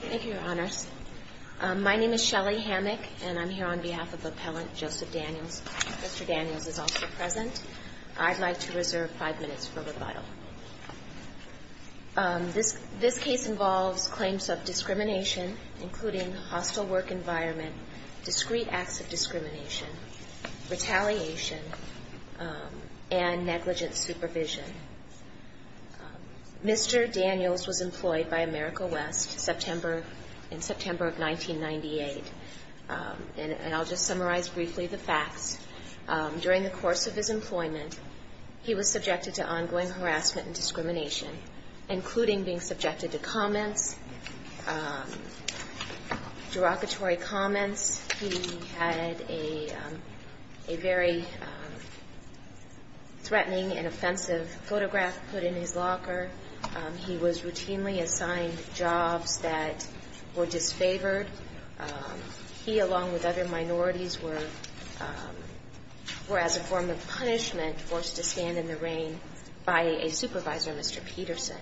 Thank you, Your Honors. My name is Shelley Hammack, and I'm here on behalf of Appellant Joseph Daniels. Mr. Daniels is also present. I'd like to reserve five minutes for rebuttal. This case involves claims of discrimination, including hostile work environment, discrete acts of discrimination, retaliation, and negligent supervision. Mr. Daniels was employed by America West in September of 1998, and I'll just summarize briefly the facts. During the course of his employment, he was subjected to ongoing harassment and discrimination, including being subjected to comments, derogatory comments. He had a very threatening and offensive photograph put in his locker. He was routinely assigned jobs that were disfavored. He, along with other minorities, were, as a form of punishment, forced to stand in the rain by a supervisor, Mr. Peterson.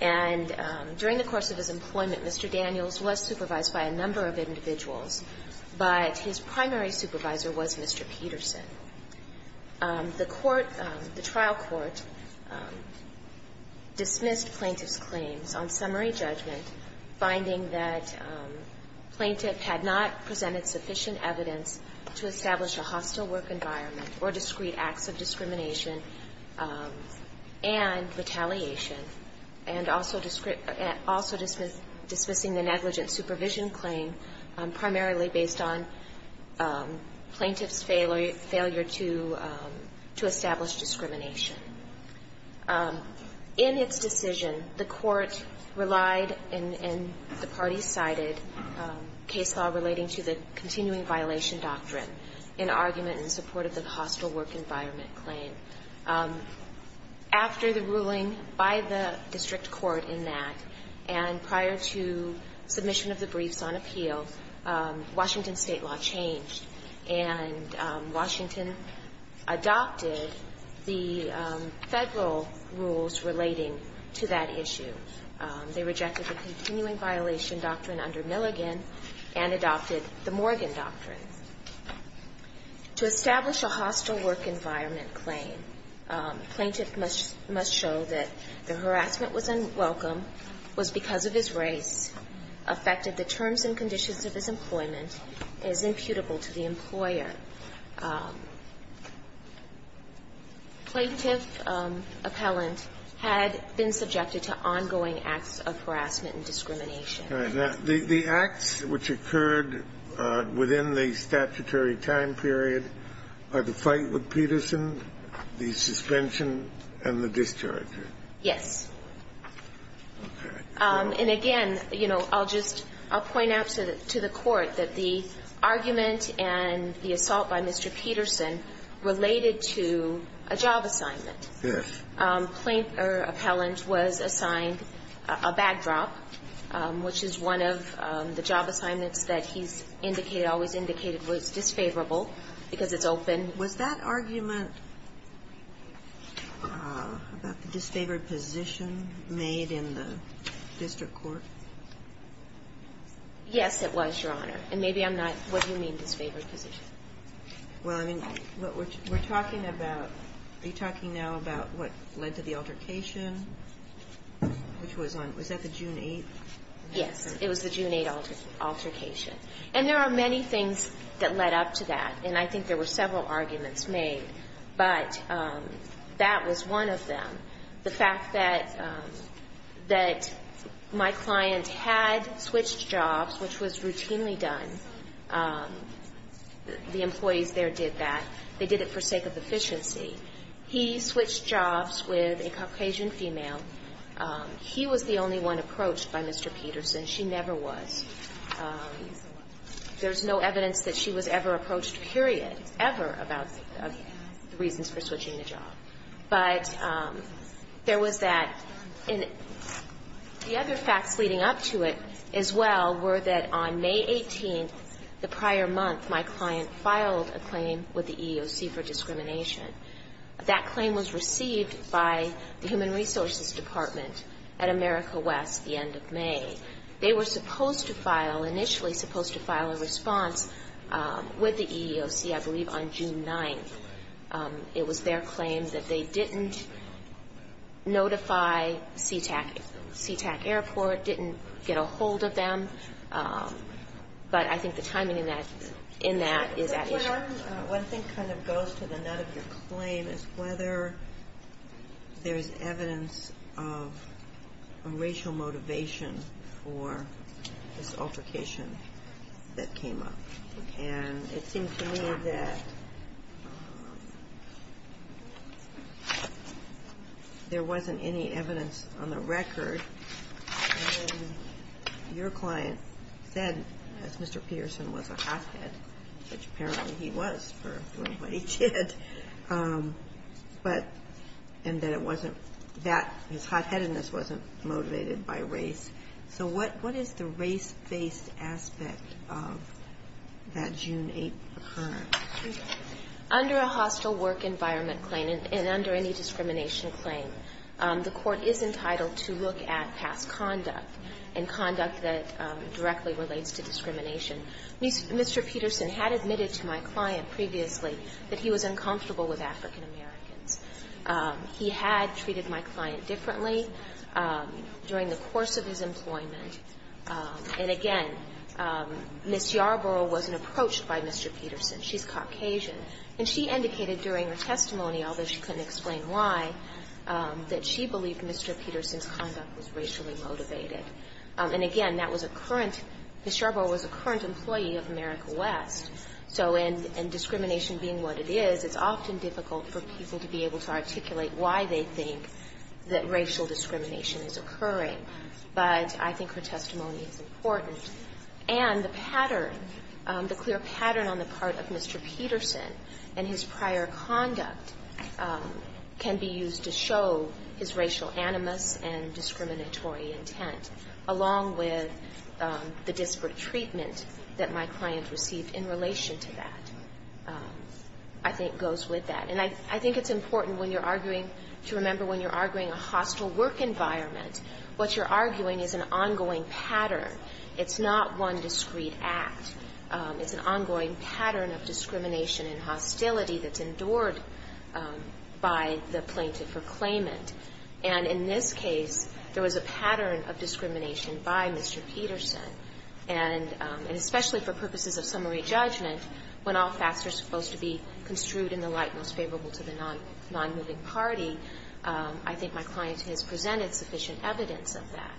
And during the course of his employment, Mr. Daniels was supervised by a number of individuals, but his primary supervisor was Mr. Peterson. The court, the trial court, dismissed plaintiff's claims on summary judgment, finding that plaintiff had not presented sufficient evidence to establish a hostile work environment or discrete acts of discrimination and retaliation, and also dismissing the negligent supervision claim primarily based on plaintiff's failure to establish discrimination. In its decision, the court relied, and the parties cited, case law relating to the continuing violation doctrine in argument in support of the hostile work environment claim. After the ruling by the district court in that, and prior to submission of the briefs on appeal, Washington State law changed. And Washington adopted the Federal rules relating to that issue. They rejected the continuing violation doctrine under Milligan and adopted the Morgan doctrine. To establish a hostile work environment claim, plaintiff must show that the harassment was unwelcome, was because of his race, affected the terms and conditions of his employment, is imputable to the employer. Plaintiff appellant had been subjected to ongoing acts of harassment and discrimination. The acts which occurred within the statutory time period are the fight with Peterson, the suspension, and the discharge. Yes. And again, you know, I'll just point out to the court that the argument and the assault by Mr. Peterson related to a job assignment. Yes. Plaintiff or appellant was assigned a backdrop, which is one of the job assignments that he's indicated, always indicated was disfavorable because it's open. And was that argument about the disfavored position made in the district court? Yes, it was, Your Honor. And maybe I'm not, what do you mean, disfavored position? Well, I mean, we're talking about, are you talking now about what led to the altercation, which was on, was that the June 8th? Yes. It was the June 8th altercation. And there are many things that led up to that, and I think there were several arguments made, but that was one of them. The fact that my client had switched jobs, which was routinely done, the employees there did that, they did it for sake of efficiency. He switched jobs with a Caucasian female. He was the only one approached by Mr. Peterson. She never was. There's no evidence that she was ever approached, period, ever, about the reasons for switching a job. But there was that. And the other facts leading up to it as well were that on May 18th, the prior month, my client filed a claim with the EEOC for discrimination. That claim was received by the Human Resources Department at America West the end of May. They were supposed to file, initially supposed to file a response with the EEOC, I believe, on June 9th. It was their claim that they didn't notify SeaTac Airport, didn't get a hold of them. But I think the timing in that is at issue. One thing kind of goes to the nut of your claim is whether there's evidence of a racial motivation for this altercation that came up. And it seemed to me that there wasn't any evidence on the record. Your client said, as Mr. Peterson was a hothead, which apparently he was for what he did, and that it wasn't that his hotheadedness wasn't motivated by race. So what is the race-based aspect of that June 8th occurrence? Under a hostile work environment claim and under any discrimination claim, the Court is entitled to look at past conduct and conduct that directly relates to discrimination. Mr. Peterson had admitted to my client previously that he was uncomfortable with African-Americans. He had treated my client differently during the course of his employment. And again, Ms. Yarborough wasn't approached by Mr. Peterson. She's Caucasian. And she indicated during her testimony, although she couldn't explain why, that she believed Mr. Peterson's conduct was racially motivated. And again, that was a current – Ms. Yarborough was a current employee of America West. So in discrimination being what it is, it's often difficult for people to be able to articulate why they think that racial discrimination is occurring. But I think her testimony is important. And the pattern, the clear pattern on the part of Mr. Peterson and his prior conduct can be used to show his racial animus and discriminatory intent, along with the disparate treatment that my client received in relation to that, I think goes with that. And I think it's important when you're arguing to remember when you're arguing a hostile work environment, what you're arguing is an ongoing pattern. It's not one discrete act. It's an ongoing pattern of discrimination and hostility that's endured by the plaintiff or claimant. And in this case, there was a pattern of discrimination by Mr. Peterson. And especially for purposes of summary judgment, when all facts are supposed to be construed in the light most favorable to the nonmoving party, I think my client has presented sufficient evidence of that.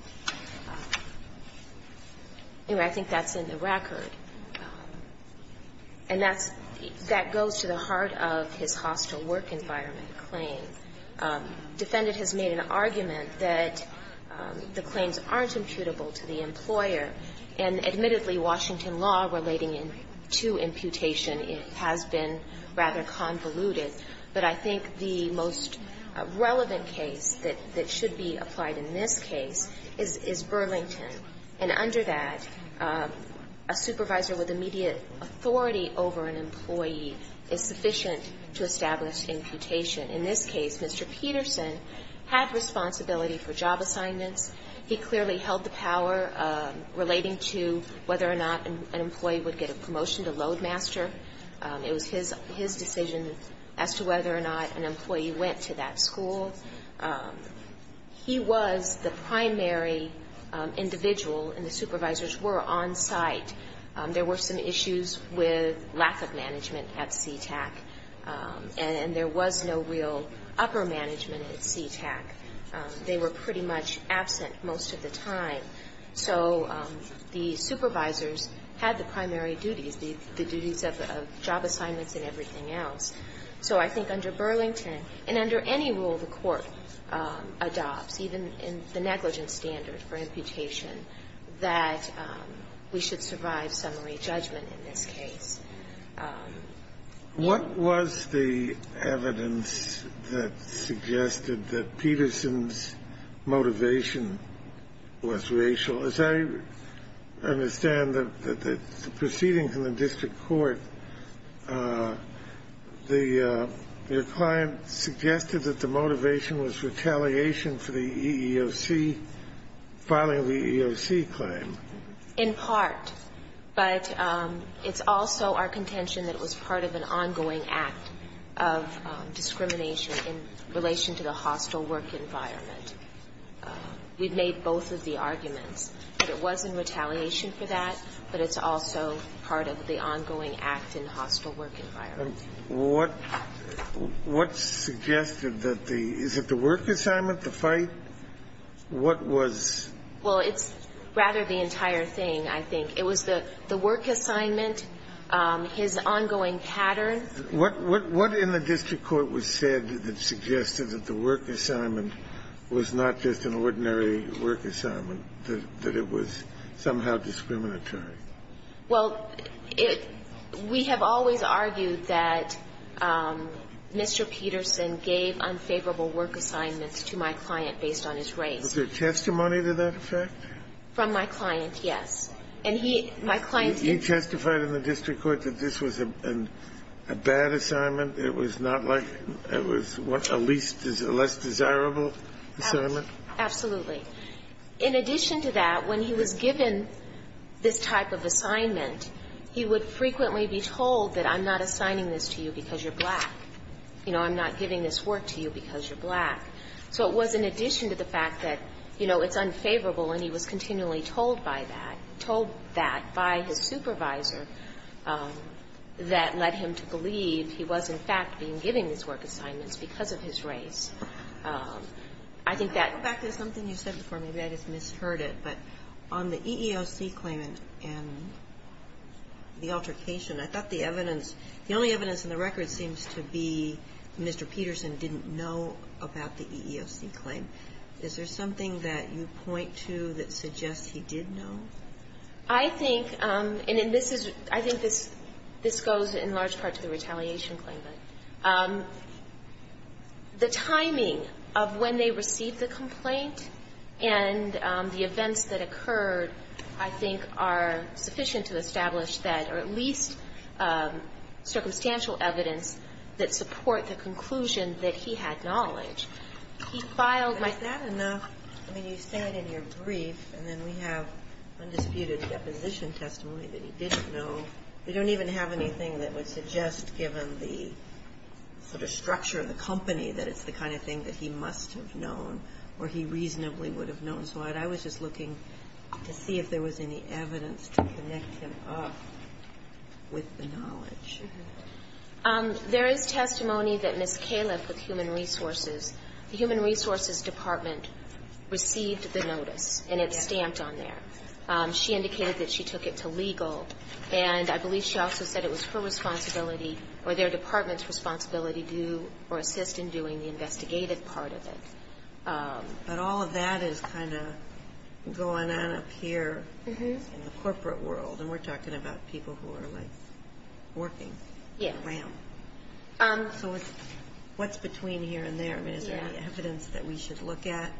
Anyway, I think that's in the record. And that's – that goes to the heart of his hostile work environment claim. Defendant has made an argument that the claims aren't imputable to the employer. And admittedly, Washington law relating to imputation has been rather convoluted. But I think the most relevant case that should be applied in this case is Burlington. And under that, a supervisor with immediate authority over an employee is sufficient to establish imputation. In this case, Mr. Peterson had responsibility for job assignments. He clearly held the power relating to whether or not an employee would get a promotion to loadmaster. It was his decision as to whether or not an employee went to that school. He was the primary individual, and the supervisors were on site. There were some issues with lack of management at CTAC. And there was no real upper management at CTAC. They were pretty much absent most of the time. So the supervisors had the primary duties, the duties of job assignments and everything else. So I think under Burlington, and under any rule the Court adopts, even in the negligence standard for imputation, that we should survive summary judgment in this case. What was the evidence that suggested that Peterson's motivation was racial? As I understand the proceedings in the district court, the client suggested that the motivation was retaliation for the EEOC, filing of the EEOC claim. In part, but it's also our contention that it was part of an ongoing act of discrimination in relation to the hostile work environment. We've made both of the arguments that it was in retaliation for that, but it's also part of the ongoing act in hostile work environment. What suggested that the – is it the work assignment, the fight? What was – Well, it's rather the entire thing, I think. It was the work assignment, his ongoing pattern. What in the district court was said that suggested that the work assignment was not just an ordinary work assignment, that it was somehow discriminatory? Well, we have always argued that Mr. Peterson gave unfavorable work assignments to my client based on his race. Was there testimony to that effect? From my client, yes. And he – my client did. You testified in the district court that this was a bad assignment? It was not like – it was a less desirable assignment? Absolutely. In addition to that, when he was given this type of assignment, he would frequently be told that I'm not assigning this to you because you're black. You know, I'm not giving this work to you because you're black. So it was in addition to the fact that, you know, it's unfavorable, and he was continually told by that – told that by his supervisor that led him to believe he was, in fact, being given these work assignments because of his race. I think that – Can I go back to something you said before? Maybe I just misheard it, but on the EEOC claimant and the altercation, I thought the evidence – the only evidence in the record seems to be Mr. Peterson didn't know about the EEOC claim. Is there something that you point to that suggests he did know? I think – and this is – I think this goes in large part to the retaliation claimant. The timing of when they received the complaint and the events that occurred, I think, are sufficient to establish that, or at least circumstantial evidence that support the conclusion that he had knowledge. He filed my – But is that enough? I mean, you say it in your brief, and then we have undisputed deposition testimony that he didn't know. We don't even have anything that would suggest, given the sort of structure of the company, that it's the kind of thing that he must have known or he reasonably would have known. So I was just looking to see if there was any evidence to connect him up with the knowledge. There is testimony that Ms. Califf with Human Resources, the Human Resources Department, received the notice, and it's stamped on there. She indicated that she took it to legal, and I believe she also said it was her responsibility or their department's responsibility to assist in doing the investigative part of it. But all of that is kind of going on up here in the corporate world, and we're looking around. So what's between here and there? I mean, is there any evidence that we should look at?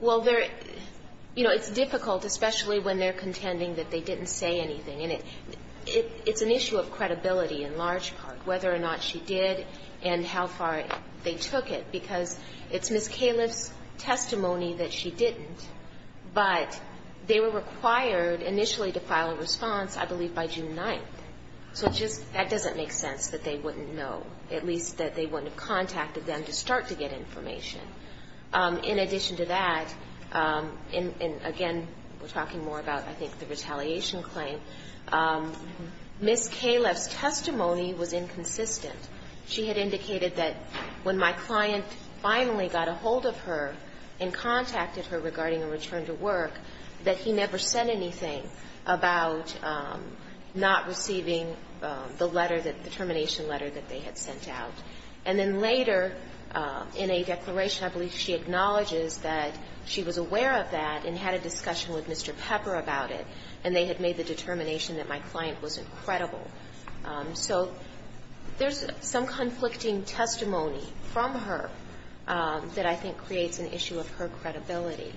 Well, there – you know, it's difficult, especially when they're contending that they didn't say anything. And it's an issue of credibility in large part, whether or not she did and how far they took it, because it's Ms. Califf's testimony that she didn't, but they were required initially to file a response, I believe, by June 9th. So it just – that doesn't make sense that they wouldn't know, at least that they wouldn't have contacted them to start to get information. In addition to that, and again, we're talking more about, I think, the retaliation claim, Ms. Califf's testimony was inconsistent. She had indicated that when my client finally got a hold of her and contacted her regarding a return to work, that he never said anything about not receiving the letter that – the termination letter that they had sent out. And then later in a declaration, I believe she acknowledges that she was aware of that and had a discussion with Mr. Pepper about it, and they had made the determination that my client wasn't credible. So there's some conflicting testimony from her that I think creates an issue of her credibility.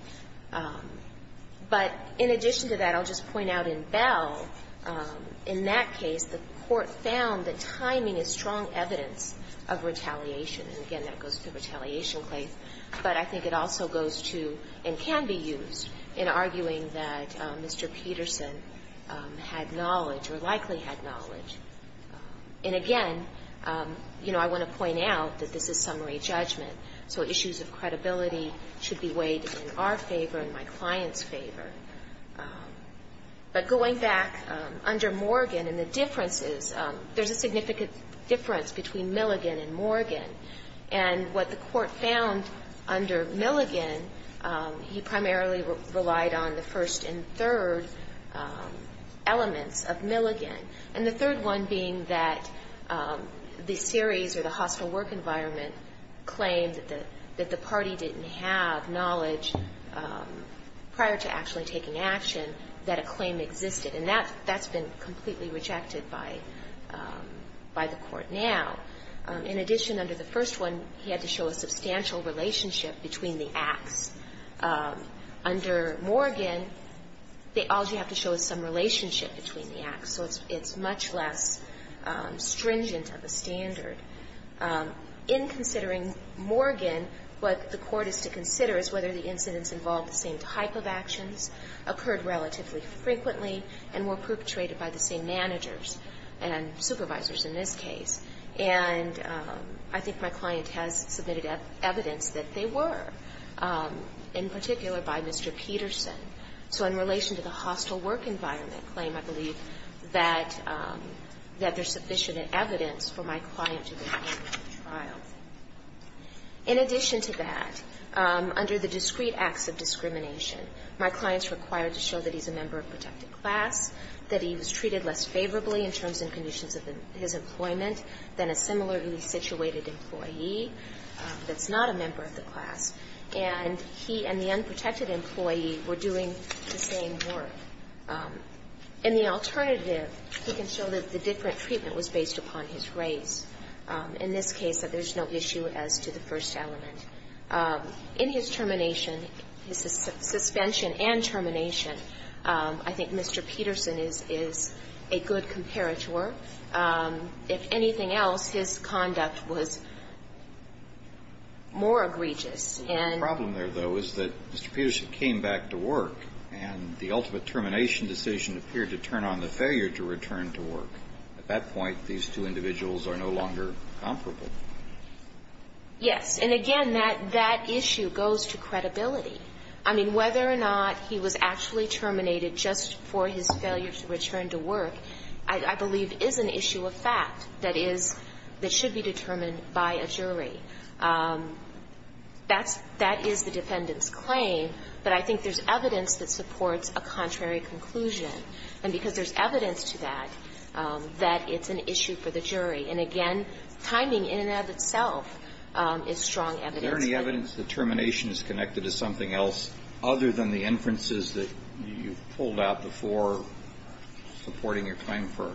But in addition to that, I'll just point out in Bell, in that case, the court found that timing is strong evidence of retaliation, and again, that goes to the retaliation claim, but I think it also goes to and can be used in arguing that Mr. Peterson had knowledge or likely had knowledge. And again, you know, I want to point out that this is summary judgment, so issues of credibility should be weighed in our favor and my client's favor. But going back under Morgan and the differences, there's a significant difference between Milligan and Morgan. And what the court found under Milligan, he primarily relied on the first and third elements of Milligan, and the third one being that the series or the hostile work environment claimed that the party didn't have knowledge prior to actually taking action that a claim existed. And that's been completely rejected by the court now. In addition, under the first one, he had to show a substantial relationship between the acts. Under Morgan, all you have to show is some relationship between the acts, so it's much less stringent of a standard. In considering Morgan, what the court is to consider is whether the incidents involved the same type of actions, occurred relatively frequently, and were perpetrated by the same managers and supervisors in this case. And I think my client has submitted evidence that they were, in particular, by Mr. Peterson. So in relation to the hostile work environment claim, I believe that there's sufficient evidence for my client to be a part of the trial. In addition to that, under the discrete acts of discrimination, my client's required to show that he's a member of protected class, that he was treated less favorably in terms and conditions of his employment than a similarly situated employee that's not a member of the class. And he and the unprotected employee were doing the same work. In the alternative, he can show that the different treatment was based upon his race, in this case that there's no issue as to the first element. In his termination, his suspension and termination, I think Mr. Peterson is a good comparator. If anything else, his conduct was more egregious. And the problem there, though, is that Mr. Peterson came back to work, and the ultimate termination decision appeared to turn on the failure to return to work. At that point, these two individuals are no longer comparable. Yes. And again, that issue goes to credibility. I mean, whether or not he was actually terminated just for his failure to return to work, I believe is an issue of fact that is that should be determined by a jury. That's the defendant's claim. But I think there's evidence that supports a contrary conclusion. And because there's evidence to that, that it's an issue for the jury. And again, timing in and of itself is strong evidence. Is there any evidence that termination is connected to something else other than the inferences that you pulled out before supporting your claim for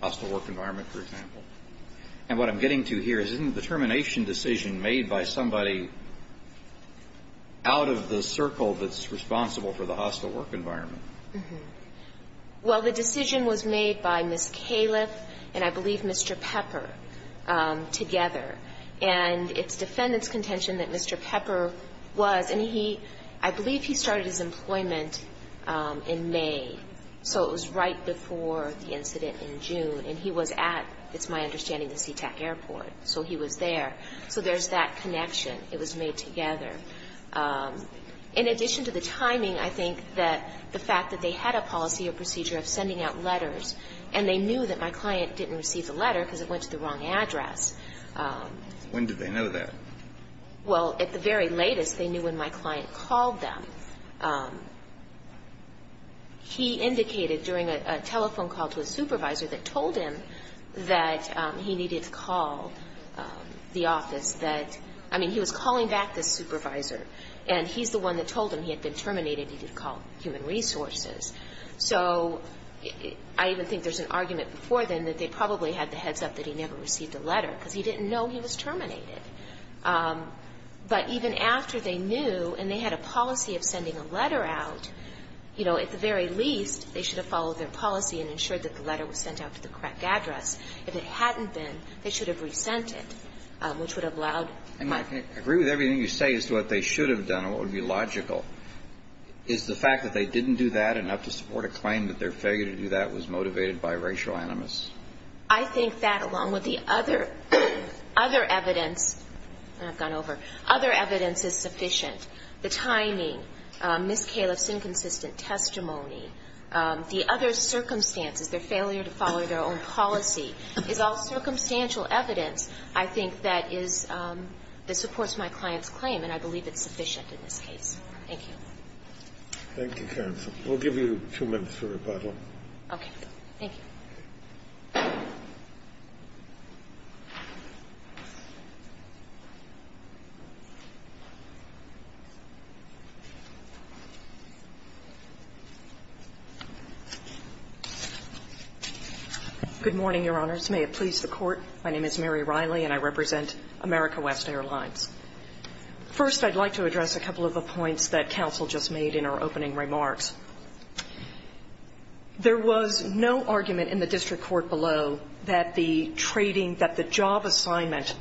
hostile work environment, for example? And what I'm getting to here is, isn't the termination decision made by somebody out of the circle that's responsible for the hostile work environment? Well, the decision was made by Ms. Califf and I believe Mr. Pepper together. And it's defendant's contention that Mr. Pepper was, and he, I believe he started his employment in May. So it was right before the incident in June. And he was at, it's my understanding, the SeaTac Airport. So he was there. So there's that connection. It was made together. In addition to the timing, I think that the fact that they had a policy or procedure of sending out letters, and they knew that my client didn't receive the letter because it went to the wrong address. When did they know that? Well, at the very latest, they knew when my client called them. He indicated during a telephone call to a supervisor that told him that he needed to call the office that, I mean, he was calling back this supervisor. And he's the one that told him he had been terminated, he needed to call Human Resources. So I even think there's an argument before then that they probably had the heads up that he never received a letter because he didn't know he was terminated. But even after they knew and they had a policy of sending a letter out, you know, at the very least, they should have followed their policy and ensured that the letter was sent out to the correct address. If it hadn't been, they should have resent it, which would have allowed my client. I agree with everything you say as to what they should have done and what would be logical. Is the fact that they didn't do that enough to support a claim that their failure to do that was motivated by racial animus? I think that, along with the other evidence, and I've gone over. Other evidence is sufficient. The timing, Ms. Califf's inconsistent testimony, the other circumstances, their failure to follow their own policy, is all circumstantial evidence, I think, that supports my client's claim, and I believe it's sufficient in this case. Thank you. Thank you, counsel. We'll give you two minutes for rebuttal. Okay. Thank you. Good morning, Your Honors. May it please the Court. My name is Mary Riley, and I represent America West Airlines. First, I'd like to address a couple of the points that counsel just made in our opening remarks. There was no argument in the district court below that the trading, that the job assignment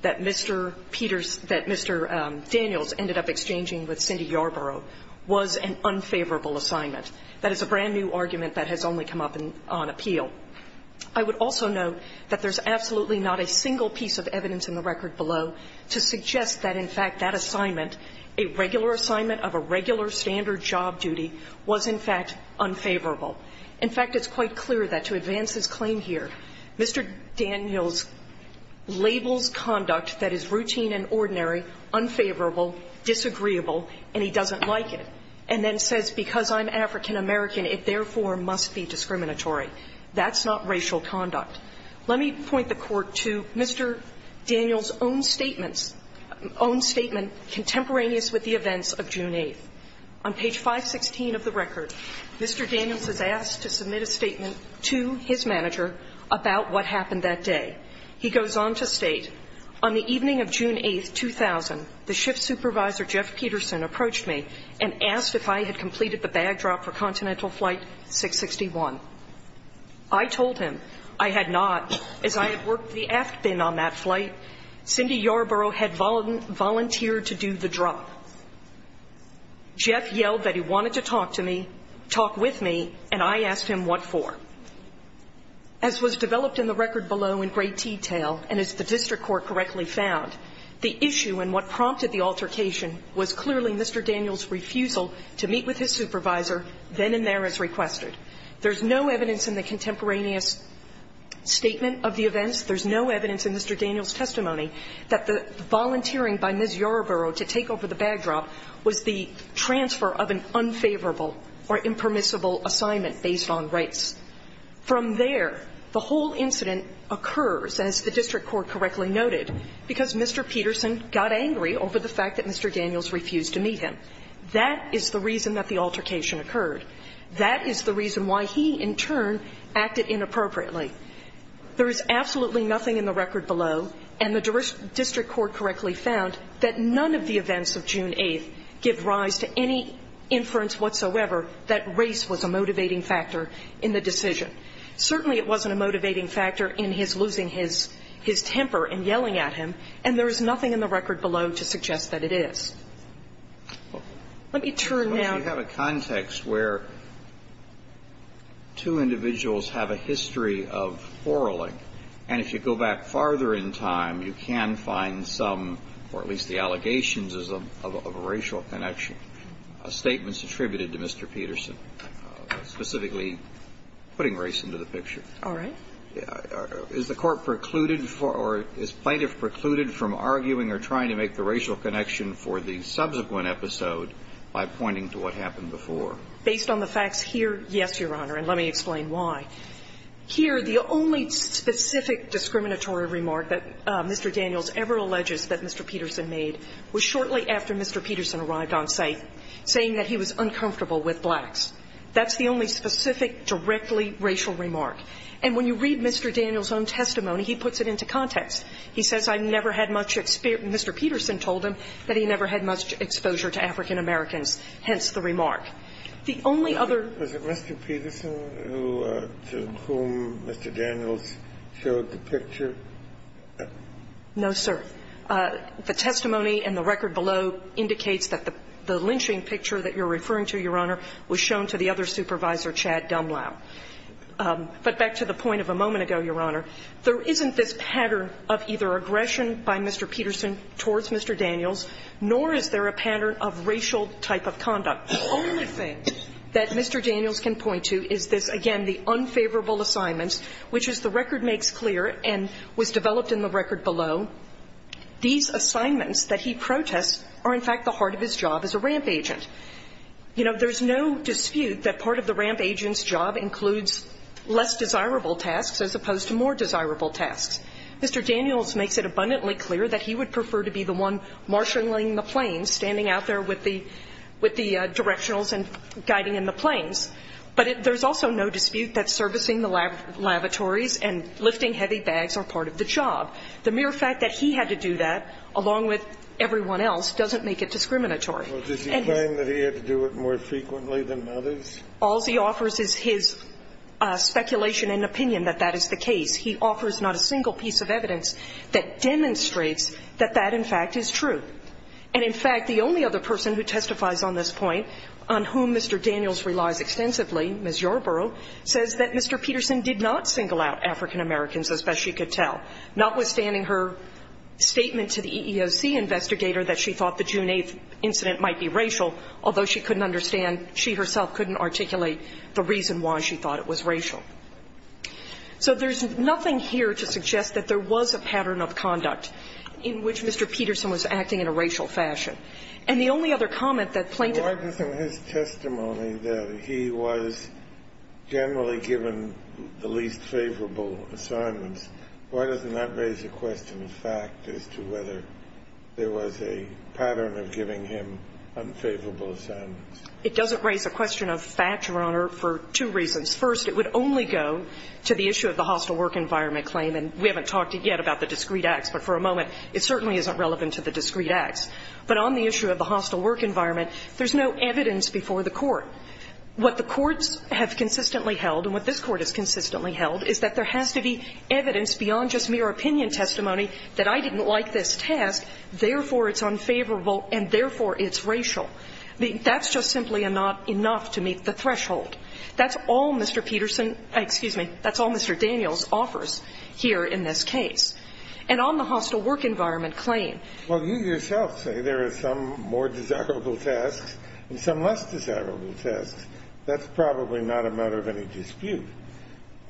that Mr. Peters, that Mr. Daniels ended up exchanging with Cindy Yarborough was an unfavorable assignment. That is a brand-new argument that has only come up on appeal. I would also note that there's absolutely not a single piece of evidence in the record below to suggest that, in fact, that assignment, a regular assignment of a regular standard job duty, was, in fact, unfavorable. In fact, it's quite clear that, to advance his claim here, Mr. Daniels labels conduct that is routine and ordinary, unfavorable, disagreeable, and he doesn't like it, and then says, because I'm African-American, it therefore must be discriminatory. That's not racial conduct. Let me point the Court to Mr. Daniels' own statements, own statement contemporaneous with the events of June 8th. On page 516 of the record, Mr. Daniels is asked to submit a statement to his manager about what happened that day. He goes on to state, on the evening of June 8th, 2000, the ship's supervisor, Jeff Peterson, approached me and asked if I had completed the bag drop for Continental Flight 661. I told him I had not, as I had worked the aft bin on that flight. Cindy Yarborough had volunteered to do the drop. Jeff yelled that he wanted to talk to me, talk with me, and I asked him what for. As was developed in the record below in great detail, and as the district court correctly found, the issue and what prompted the altercation was clearly Mr. Daniels' refusal to meet with his supervisor then and there as requested. There's no evidence in the contemporaneous statement of the events, there's no evidence in Mr. Daniels' testimony, that the volunteering by Ms. Yarborough to take over the bag drop was the transfer of an unfavorable or impermissible assignment based on rights. From there, the whole incident occurs, as the district court correctly noted, because Mr. Peterson got angry over the fact that Mr. Daniels refused to meet him. That is the reason that the altercation occurred. That is the reason why he, in turn, acted inappropriately. There is absolutely nothing in the record below, and the district court correctly found, that none of the events of June 8th give rise to any inference whatsoever that race was a motivating factor in the decision. Certainly, it wasn't a motivating factor in his losing his temper and yelling at him, and there is nothing in the record below to suggest that it is. Let me turn now to Mr. Peterson. I'd like to ask a question about the possibility of quarreling. And if you go back farther in time, you can find some, or at least the allegations of a racial connection, statements attributed to Mr. Peterson, specifically putting race into the picture. All right. Is the Court precluded, or is plaintiff precluded from arguing or trying to make the racial connection for the subsequent episode by pointing to what happened before? Based on the facts here, yes, Your Honor, and let me explain why. Here, the only specific discriminatory remark that Mr. Daniels ever alleges that Mr. Peterson made was shortly after Mr. Peterson arrived on site, saying that he was uncomfortable with blacks. That's the only specific, directly racial remark. And when you read Mr. Daniels' own testimony, he puts it into context. He says, I never had much experience Mr. Peterson told him that he never had much exposure to African Americans, hence the remark. The only other Is it Mr. Peterson to whom Mr. Daniels showed the picture? No, sir. The testimony and the record below indicates that the lynching picture that you're referring to, Your Honor, was shown to the other supervisor, Chad Dumlau. But back to the point of a moment ago, Your Honor, there isn't this pattern of either aggression by Mr. Peterson towards Mr. Daniels, nor is there a pattern of racial type of conduct. The only thing that Mr. Daniels can point to is this, again, the unfavorable assignment, which, as the record makes clear and was developed in the record below, these assignments that he protests are, in fact, the heart of his job as a ramp agent. You know, there's no dispute that part of the ramp agent's job includes less desirable tasks as opposed to more desirable tasks. Mr. Daniels makes it abundantly clear that he would prefer to be the one marshaling the planes, standing out there with the directionals and guiding in the planes. But there's also no dispute that servicing the lavatories and lifting heavy bags are part of the job. The mere fact that he had to do that, along with everyone else, doesn't make it discriminatory. And he's going to do it more frequently than others. All he offers is his speculation and opinion that that is the case. He offers not a single piece of evidence that demonstrates that that, in fact, is true. And, in fact, the only other person who testifies on this point, on whom Mr. Daniels relies extensively, Ms. Yorberow, says that Mr. Peterson did not single out African-Americans, as best she could tell, notwithstanding her statement to the EEOC investigator that she thought the June 8th incident might be racial, although she couldn't understand, she herself couldn't articulate the reason why she thought it was racial. So there's nothing here to suggest that there was a pattern of conduct in which Mr. Peterson was acting in a racial fashion. And the only other comment that plaintiff ---- Kennedy, in his testimony, that he was generally given the least favorable assignments, why doesn't that raise a question of fact as to whether there was a pattern of giving him unfavorable assignments? It doesn't raise a question of fact, Your Honor, for two reasons. First, it would only go to the issue of the hostile work environment claim. And we haven't talked yet about the discrete acts. But for a moment, it certainly isn't relevant to the discrete acts. But on the issue of the hostile work environment, there's no evidence before the Court. What the courts have consistently held, and what this Court has consistently held, is that there has to be evidence beyond just mere opinion testimony that I didn't like this task, therefore it's unfavorable, and therefore it's racial. That's just simply not enough to meet the threshold. That's all Mr. Peterson ---- excuse me. That's all Mr. Daniels offers here in this case. And on the hostile work environment claim ---- Well, you yourself say there are some more desirable tasks and some less desirable tasks. That's probably not a matter of any dispute.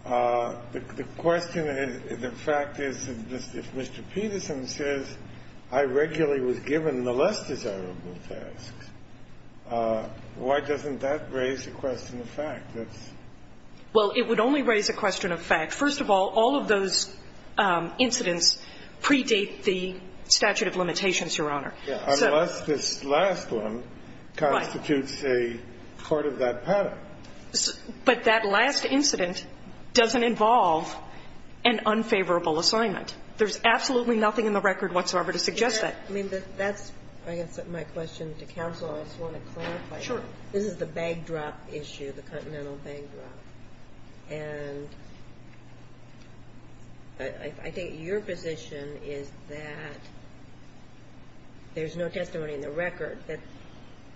The question is, the fact is, if Mr. Peterson says I regularly was given the less desirable tasks, why doesn't that raise a question of fact? That's ---- Well, it would only raise a question of fact. First of all, all of those incidents predate the statute of limitations, Your Honor. So ---- Yeah, unless this last one constitutes a part of that pattern. But that last incident doesn't involve an unfavorable assignment. There's absolutely nothing in the record whatsoever to suggest that. I mean, that's, I guess, my question to counsel. I just want to clarify. Sure. This is the bag drop issue, the Continental Bag Drop. And I think your position is that there's no testimony in the record that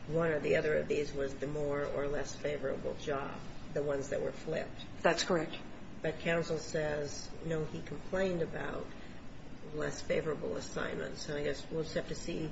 one or the other of these was the more or less favorable job, the ones that were flipped. That's correct. But counsel says, no, he complained about less favorable assignments. So I guess we'll just have to see.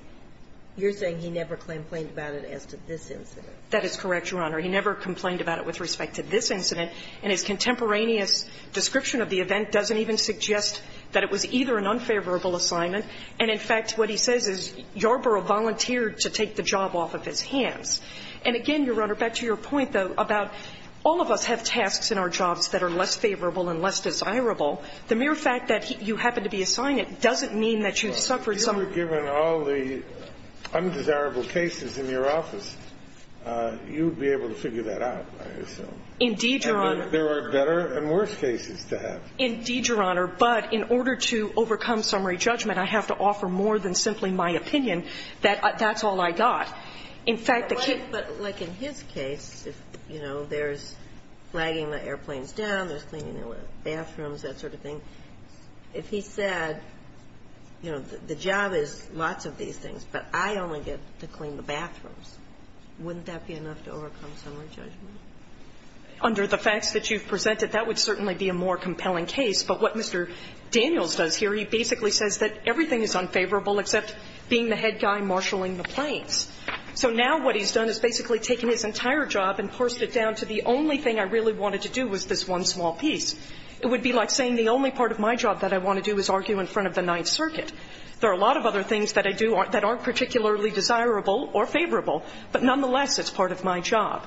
You're saying he never complained about it as to this incident. That is correct, Your Honor. He never complained about it with respect to this incident. And his contemporaneous description of the event doesn't even suggest that it was either an unfavorable assignment. And in fact, what he says is Yarborough volunteered to take the job off of his hands. And again, Your Honor, back to your point, though, about all of us have tasks in our jobs that are less favorable and less desirable. The mere fact that you happened to be assigned it doesn't mean that you suffered some of the consequences. Well, if you were given all the undesirable cases in your office, you would be able to figure that out, I assume. Indeed, Your Honor. And there are better and worse cases to have. Indeed, Your Honor. But in order to overcome summary judgment, I have to offer more than simply my opinion that that's all I got. In fact, the case of the case of the case, you know, there's flagging the airplanes down, there's cleaning the bathrooms, that sort of thing. If he said, you know, the job is lots of these things, but I only get to clean the bathrooms, wouldn't that be enough to overcome summary judgment? Under the facts that you've presented, that would certainly be a more compelling case. But what Mr. Daniels does here, he basically says that everything is unfavorable except being the head guy marshaling the planes. So now what he's done is basically taken his entire job and forced it down to the only thing I really wanted to do was this one small piece. It would be like saying the only part of my job that I want to do is argue in front of the Ninth Circuit. There are a lot of other things that I do that aren't particularly desirable or favorable, but nonetheless, it's part of my job.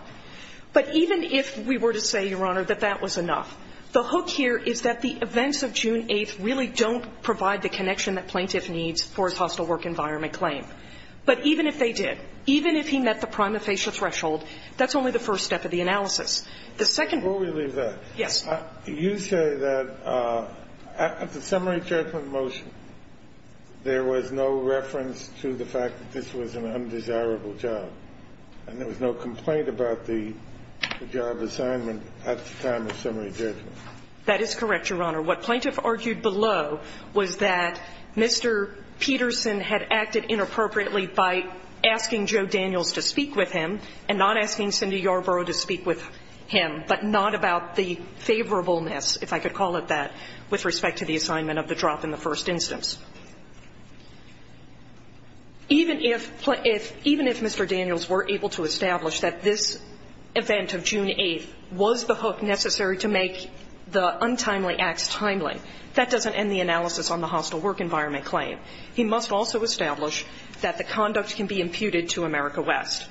But even if we were to say, Your Honor, that that was enough, the hook here is that the events of June 8th really don't provide the connection that Plaintiff needs for his hostile work environment claim. But even if they did, even if he met the prima facie threshold, that's only the first step of the analysis. The second one we leave that. Yes. You say that at the summary judgment motion, there was no reference to the fact that this was an undesirable job, and there was no complaint about the job assignment at the time of summary judgment. That is correct, Your Honor. What Plaintiff argued below was that Mr. Peterson had acted inappropriately by asking Joe Daniels to speak with him and not asking Cindy Yarbrough to speak with him, but not about the favorableness, if I could call it that, with respect to the assignment of the drop in the first instance. Even if Mr. Daniels were able to establish that this event of June 8th was the hook necessary to make the untimely acts timely, that doesn't end the analysis on the hostile work environment claim. He must also establish that the conduct can be imputed to America West.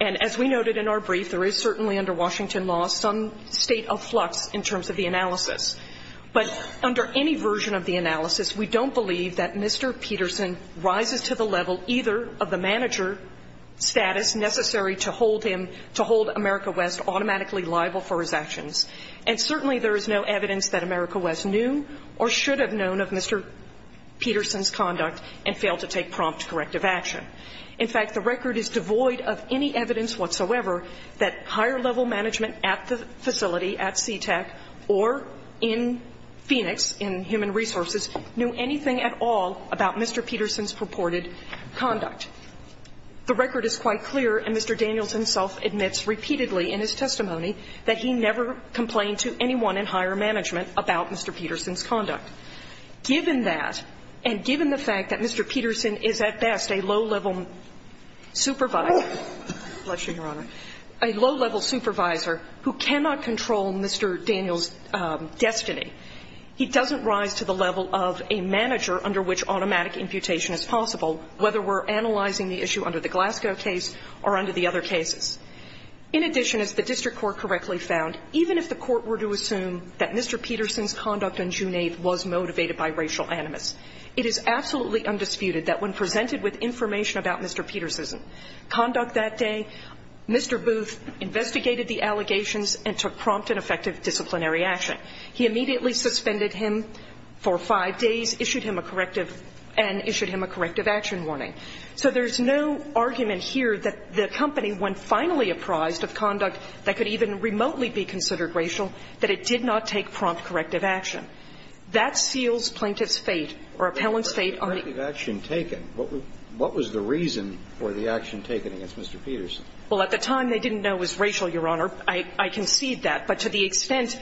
And as we noted in our brief, there is certainly under Washington law some state of flux in terms of the analysis. But under any version of the analysis, we don't believe that Mr. Peterson rises to the level either of the manager status necessary to hold him, to hold America West automatically liable for his actions. And certainly there is no evidence that America West knew or should have known of Mr. Peterson's conduct and failed to take prompt corrective action. In fact, the record is devoid of any evidence whatsoever that higher-level management at the facility, at CTEC, or in Phoenix, in Human Resources, knew anything at all about Mr. Peterson's purported conduct. The record is quite clear, and Mr. Daniels himself admits repeatedly in his testimony that he never complained to anyone in higher management about Mr. Peterson's conduct. Given that, and given the fact that Mr. Peterson is at best a low-level supervisor --" Bless you, Your Honor. --"a low-level supervisor who cannot control Mr. Daniels' destiny, he doesn't rise to the level of a manager under which automatic imputation is possible, whether we're analyzing the issue under the Glasgow case or under the other cases. In addition, as the district court correctly found, even if the court were to assume that Mr. Peterson's conduct on June 8th was motivated by racial animus, it is absolutely undisputed that when presented with information about Mr. Peterson's conduct that day, Mr. Booth investigated the allegations and took prompt and effective disciplinary action. He immediately suspended him for five days, issued him a corrective, and issued him a corrective action warning. So there's no argument here that the company, when finally apprised of conduct that could even remotely be considered racial, that it did not take prompt corrective action. That seals plaintiff's fate or appellant's fate on the actual action taken. What was the reason for the action taken against Mr. Peterson? Well, at the time, they didn't know it was racial, Your Honor. I concede that. But to the extent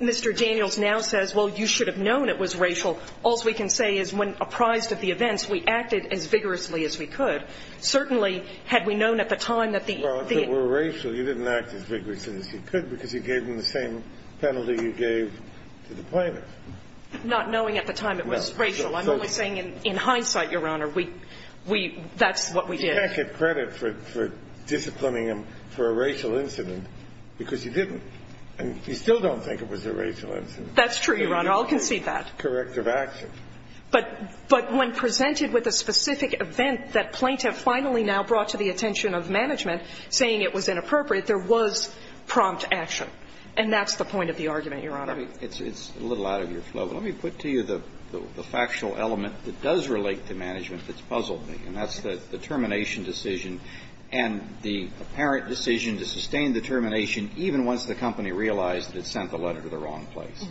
Mr. Daniels now says, well, you should have known it was racial, all's we can say is when apprised of the events, we acted as vigorously as we could. Certainly, had we known at the time that the – Well, if it were racial, you didn't act as vigorously as you could because you gave him the same penalty you gave to the plaintiff. Not knowing at the time it was racial. I'm only saying in hindsight, Your Honor, we – that's what we did. You can't get credit for disciplining him for a racial incident because you didn't. And you still don't think it was a racial incident. That's true, Your Honor. I'll concede that. Corrective action. But when presented with a specific event that plaintiff finally now brought to the attention of management, saying it was inappropriate, there was prompt action. And that's the point of the argument, Your Honor. It's a little out of your flow, but let me put to you the factual element that does relate to management that's puzzled me, and that's the termination decision and the apparent decision to sustain the termination even once the company realized that it sent the letter to the wrong place.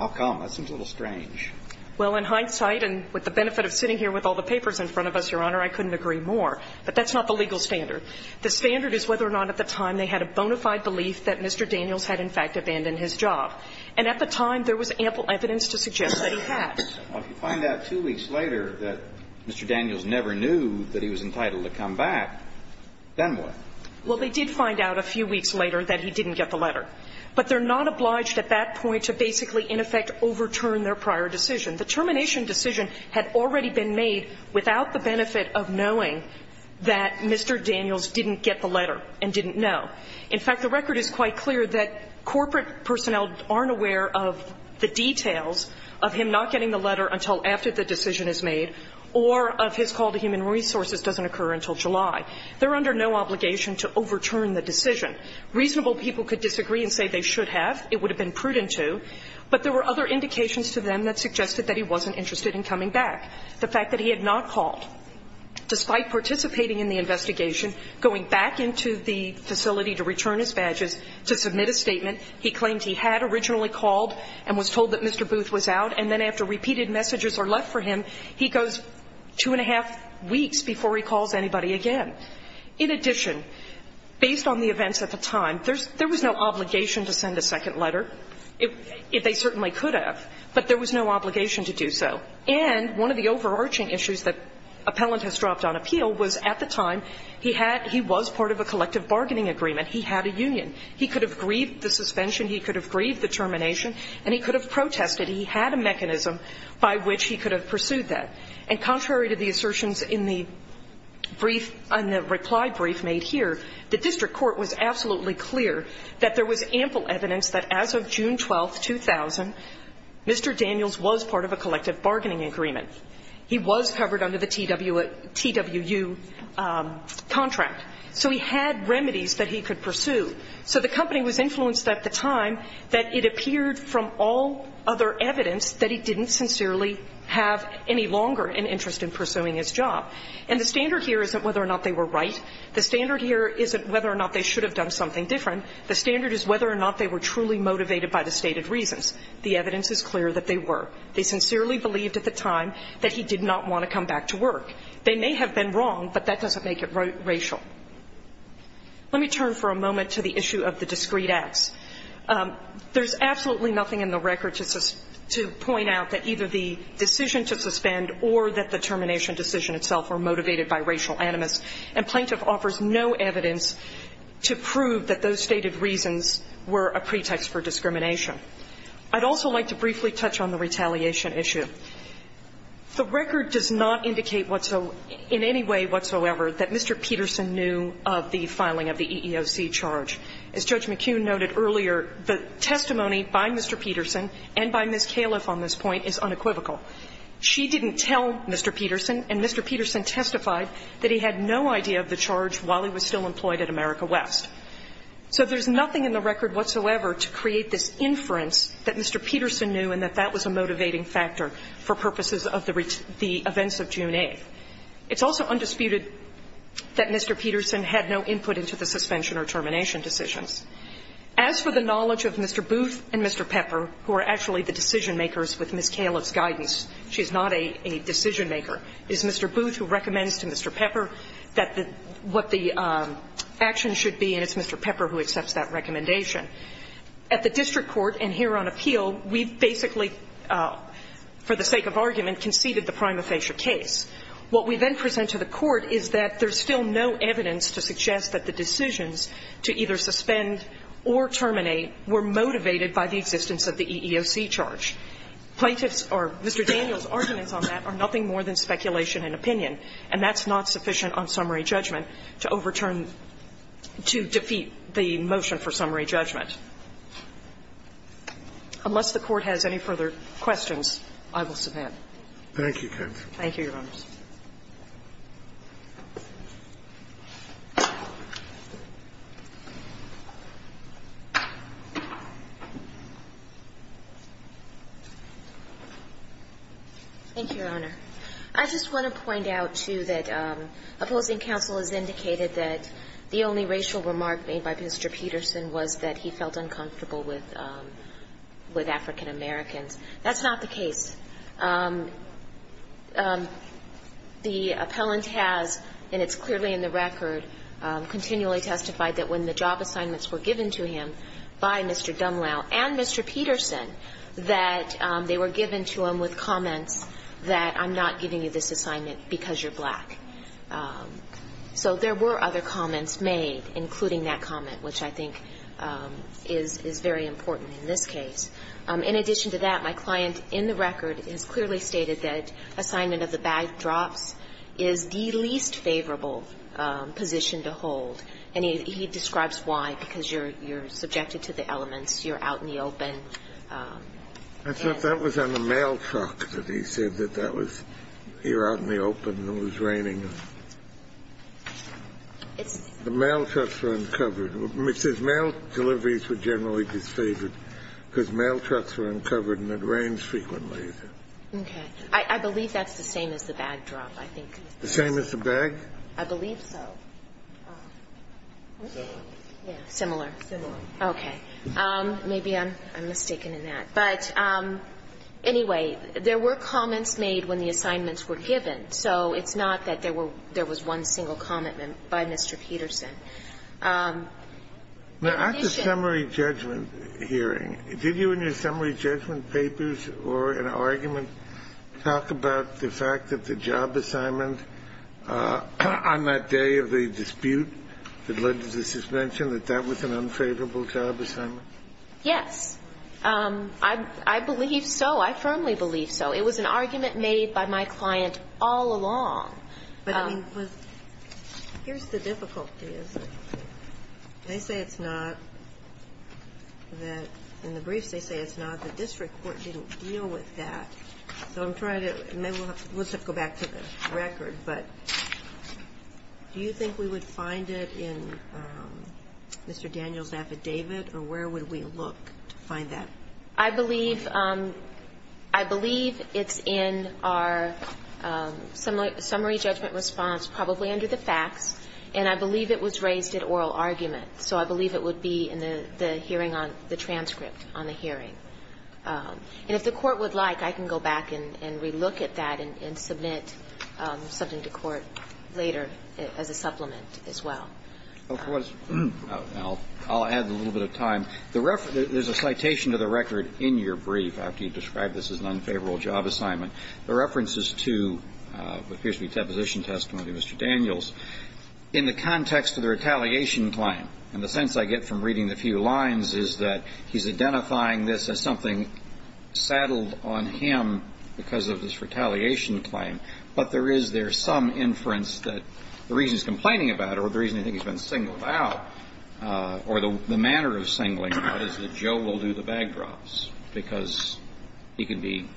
How come? That seems a little strange. Well, in hindsight, and with the benefit of sitting here with all the papers in front of us, Your Honor, I couldn't agree more. But that's not the legal standard. The standard is whether or not at the time they had a bona fide belief that Mr. Daniels had in fact abandoned his job. And at the time, there was ample evidence to suggest that he had. Well, if you find out two weeks later that Mr. Daniels never knew that he was entitled to come back, then what? Well, they did find out a few weeks later that he didn't get the letter. But they're not obliged at that point to basically, in effect, overturn their prior decision. The termination decision had already been made without the benefit of knowing that Mr. Daniels didn't get the letter and didn't know. In fact, the record is quite clear that corporate personnel aren't aware of the details of him not getting the letter until after the decision is made or of his call to human resources doesn't occur until July. They're under no obligation to overturn the decision. Reasonable people could disagree and say they should have. It would have been prudent to. But there were other indications to them that suggested that he wasn't interested in coming back. The fact that he had not called, despite participating in the investigation, going back into the facility to return his badges, to submit a statement. He claims he had originally called and was told that Mr. Booth was out. And then after repeated messages are left for him, he goes two and a half weeks before he calls anybody again. In addition, based on the events at the time, there was no obligation to send a second letter, if they certainly could have, but there was no obligation to do so. And one of the overarching issues that appellant has dropped on appeal was, at the time, he had he was part of a collective bargaining agreement. He had a union. He could have grieved the suspension, he could have grieved the termination, and he could have protested. He had a mechanism by which he could have pursued that. And contrary to the assertions in the brief, in the reply brief made here, the district court was absolutely clear that there was ample evidence that as of June 12, 2000, Mr. Daniels was part of a collective bargaining agreement. He was covered under the TWU contract. So he had remedies that he could pursue. So the company was influenced at the time that it appeared from all other evidence that he didn't sincerely have any longer an interest in pursuing his job. And the standard here isn't whether or not they were right. The standard here isn't whether or not they should have done something different. The standard is whether or not they were truly motivated by the stated reasons. The evidence is clear that they were. They sincerely believed at the time that he did not want to come back to work. They may have been wrong, but that doesn't make it racial. Let me turn for a moment to the issue of the discrete acts. There's absolutely nothing in the record to point out that either the decision to suspend or that the termination decision itself were motivated by racial animus, and Plaintiff offers no evidence to prove that those stated reasons were a pretext for discrimination. I'd also like to briefly touch on the retaliation issue. The record does not indicate whatso – in any way whatsoever that Mr. Peterson knew of the filing of the EEOC charge. As Judge McKeon noted earlier, the testimony by Mr. Peterson and by Ms. Califf on this point is unequivocal. She didn't tell Mr. Peterson, and Mr. Peterson testified that he had no idea of the charge while he was still employed at America West. So there's nothing in the record whatsoever to create this inference that Mr. Peterson knew and that that was a motivating factor for purposes of the events of June 8th. It's also undisputed that Mr. Peterson had no input into the suspension or termination decisions. As for the knowledge of Mr. Booth and Mr. Pepper, who are actually the decision makers with Ms. Califf's guidance, she's not a decision maker. It's Mr. Booth who recommends to Mr. Pepper that the – what the action should be, and it's Mr. Pepper who accepts that recommendation. At the district court and here on appeal, we basically, for the sake of argument, conceded the prima facie case. What we then present to the court is that there's still no evidence to suggest that the decisions to either suspend or terminate were motivated by the existence of the EEOC charge. Plaintiffs' or Mr. Daniels' arguments on that are nothing more than speculation and opinion, and that's not sufficient on summary judgment to overturn – to defeat the motion for summary judgment. Unless the Court has any further questions, I will submit. Thank you, counsel. Thank you, Your Honors. Thank you, Your Honor. I just want to point out, too, that opposing counsel has indicated that the only racial remark made by Mr. Peterson was that he felt uncomfortable with African Americans. That's not the case. The appellant has, and it's clearly in the record, continually testified that when the job assignments were given to him by Mr. Dumlau and Mr. Peterson, that they were given to him with comments that, I'm not giving you this assignment because you're black. So there were other comments made, including that comment, which I think is very important in this case. In addition to that, my client in the record has clearly stated that assignment of the bag drops is the least favorable position to hold, and he describes why, because you're subjected to the elements, you're out in the open. I thought that was on the mail truck that he said that that was you're out in the open and it was raining. It's the mail trucks were uncovered. It says mail deliveries were generally disfavored, because mail trucks were uncovered and it rains frequently. Okay. I believe that's the same as the bag drop, I think. The same as the bag? I believe so. Similar. Similar. Okay. Maybe I'm mistaken in that. But anyway, there were comments made when the assignments were given, so it's not that there were one single comment by Mr. Peterson. Now, at the summary judgment hearing, did you in your summary judgment papers or an argument talk about the fact that the job assignment on that day of the dispute that Linda just mentioned, that that was an unfavorable job assignment? Yes. I believe so. I firmly believe so. It was an argument made by my client all along. But I mean, here's the difficulty is that they say it's not that in the briefs they say it's not, the district court didn't deal with that. So I'm trying to go back to the record, but do you think we would find it in Mr. Daniel's affidavit or where would we look to find that? I believe it's in our summary judgment response, probably under the facts, and I believe it was raised at oral argument. So I believe it would be in the hearing on the transcript on the hearing. And if the Court would like, I can go back and relook at that and submit something to Court later as a supplement as well. I'll add a little bit of time. There's a citation to the record in your brief after you described this as an unfavorable job assignment. The reference is to the appears to be a deposition testimony of Mr. Daniels. In the context of the retaliation claim, and the sense I get from reading the few lines is that he's identifying this as something saddled on him because of this retaliation claim, but there is there some inference that the reason he's complaining about or the reason I think he's been singled out or the manner of singling out is that Joe will do the bag drops because he can be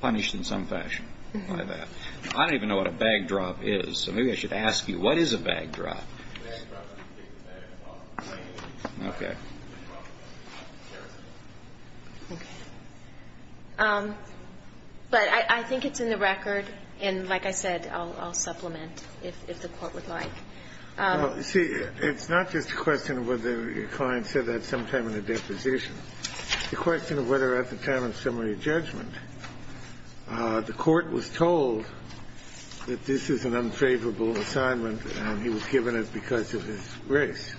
punished in some fashion by that. I don't even know what a bag drop is, so maybe I should ask you what is a bag drop? A bag drop is when you take the bag off and put it in your bag. Okay. Okay. But I think it's in the record, and like I said, I'll supplement if the Court would like. See, it's not just a question of whether your client said that sometime in the deposition. The question of whether at the time of summary judgment the Court was told that this is an unfavorable assignment and he was given it because of his race.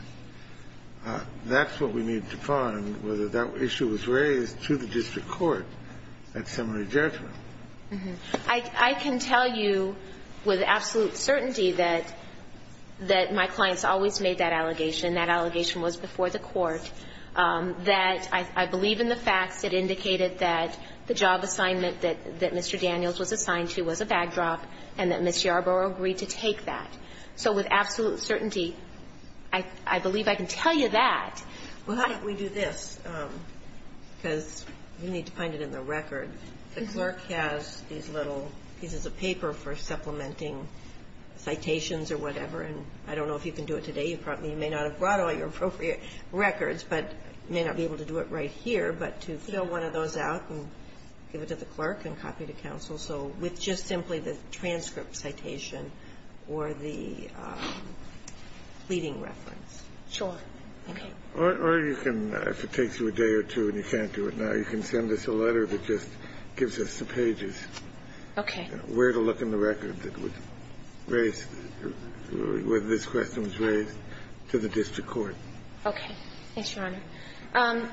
That's what we need to find, whether that issue was raised to the district court at summary judgment. I can tell you with absolute certainty that my clients always made that allegation, and that allegation was before the Court, that I believe in the facts that indicated that the job assignment that Mr. Daniels was assigned to was a bag drop and that Ms. Yarborough agreed to take that. So with absolute certainty, I believe I can tell you that. Well, how about we do this, because you need to find it in the record. The clerk has these little pieces of paper for supplementing citations or whatever, and I don't know if you can do it today. You may not have brought all your appropriate records, but you may not be able to do it right here, but to fill one of those out and give it to the clerk and copy to counsel. So with just simply the transcript citation or the leading reference. Sure. Okay. Or you can, if it takes you a day or two and you can't do it now, you can send us a letter that just gives us the pages. Okay. Where to look in the record that would raise whether this question was raised to the district court. Okay. Thanks, Your Honor.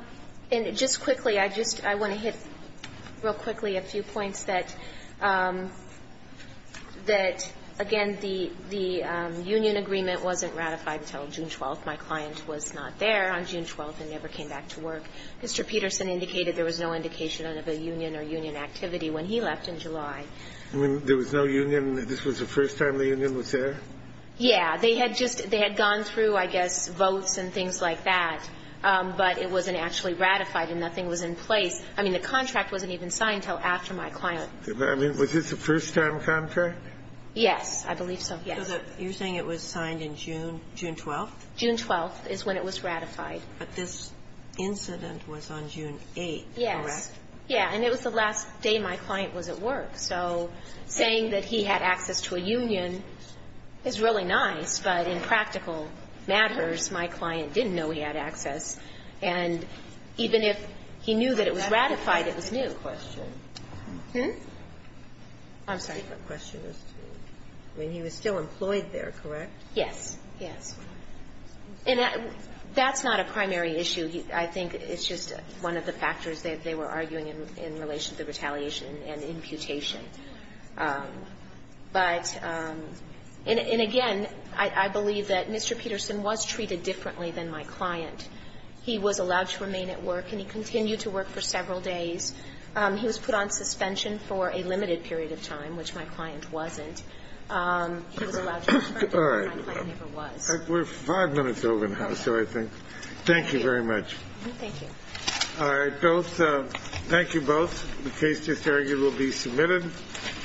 And just quickly, I just want to hit real quickly a few points that, again, the union agreement wasn't ratified until June 12th. My client was not there on June 12th and never came back to work. Mr. Peterson indicated there was no indication of a union or union activity when he left in July. When there was no union, this was the first time the union was there? Yeah. They had just gone through, I guess, votes and things like that. But it wasn't actually ratified and nothing was in place. I mean, the contract wasn't even signed until after my client. I mean, was this a first-time contract? Yes, I believe so. Yes. You're saying it was signed in June, June 12th? June 12th is when it was ratified. But this incident was on June 8th, correct? Yes. Yeah. And it was the last day my client was at work. So saying that he had access to a union is really nice, but in practical matters, my client didn't know he had access. And even if he knew that it was ratified, it was new. I'm sorry. I mean, he was still employed there, correct? Yes. Yes. And that's not a primary issue. I think it's just one of the factors they were arguing in relation to the retaliation and imputation. But, and again, I believe that Mr. Peterson was treated differently than my client. He was allowed to remain at work, and he continued to work for several days. He was put on suspension for a limited period of time, which my client wasn't. He was allowed to return to work, but my client never was. We're five minutes over now, so I think. Thank you very much. Thank you. All right. Both. Thank you both. The case disargued will be submitted.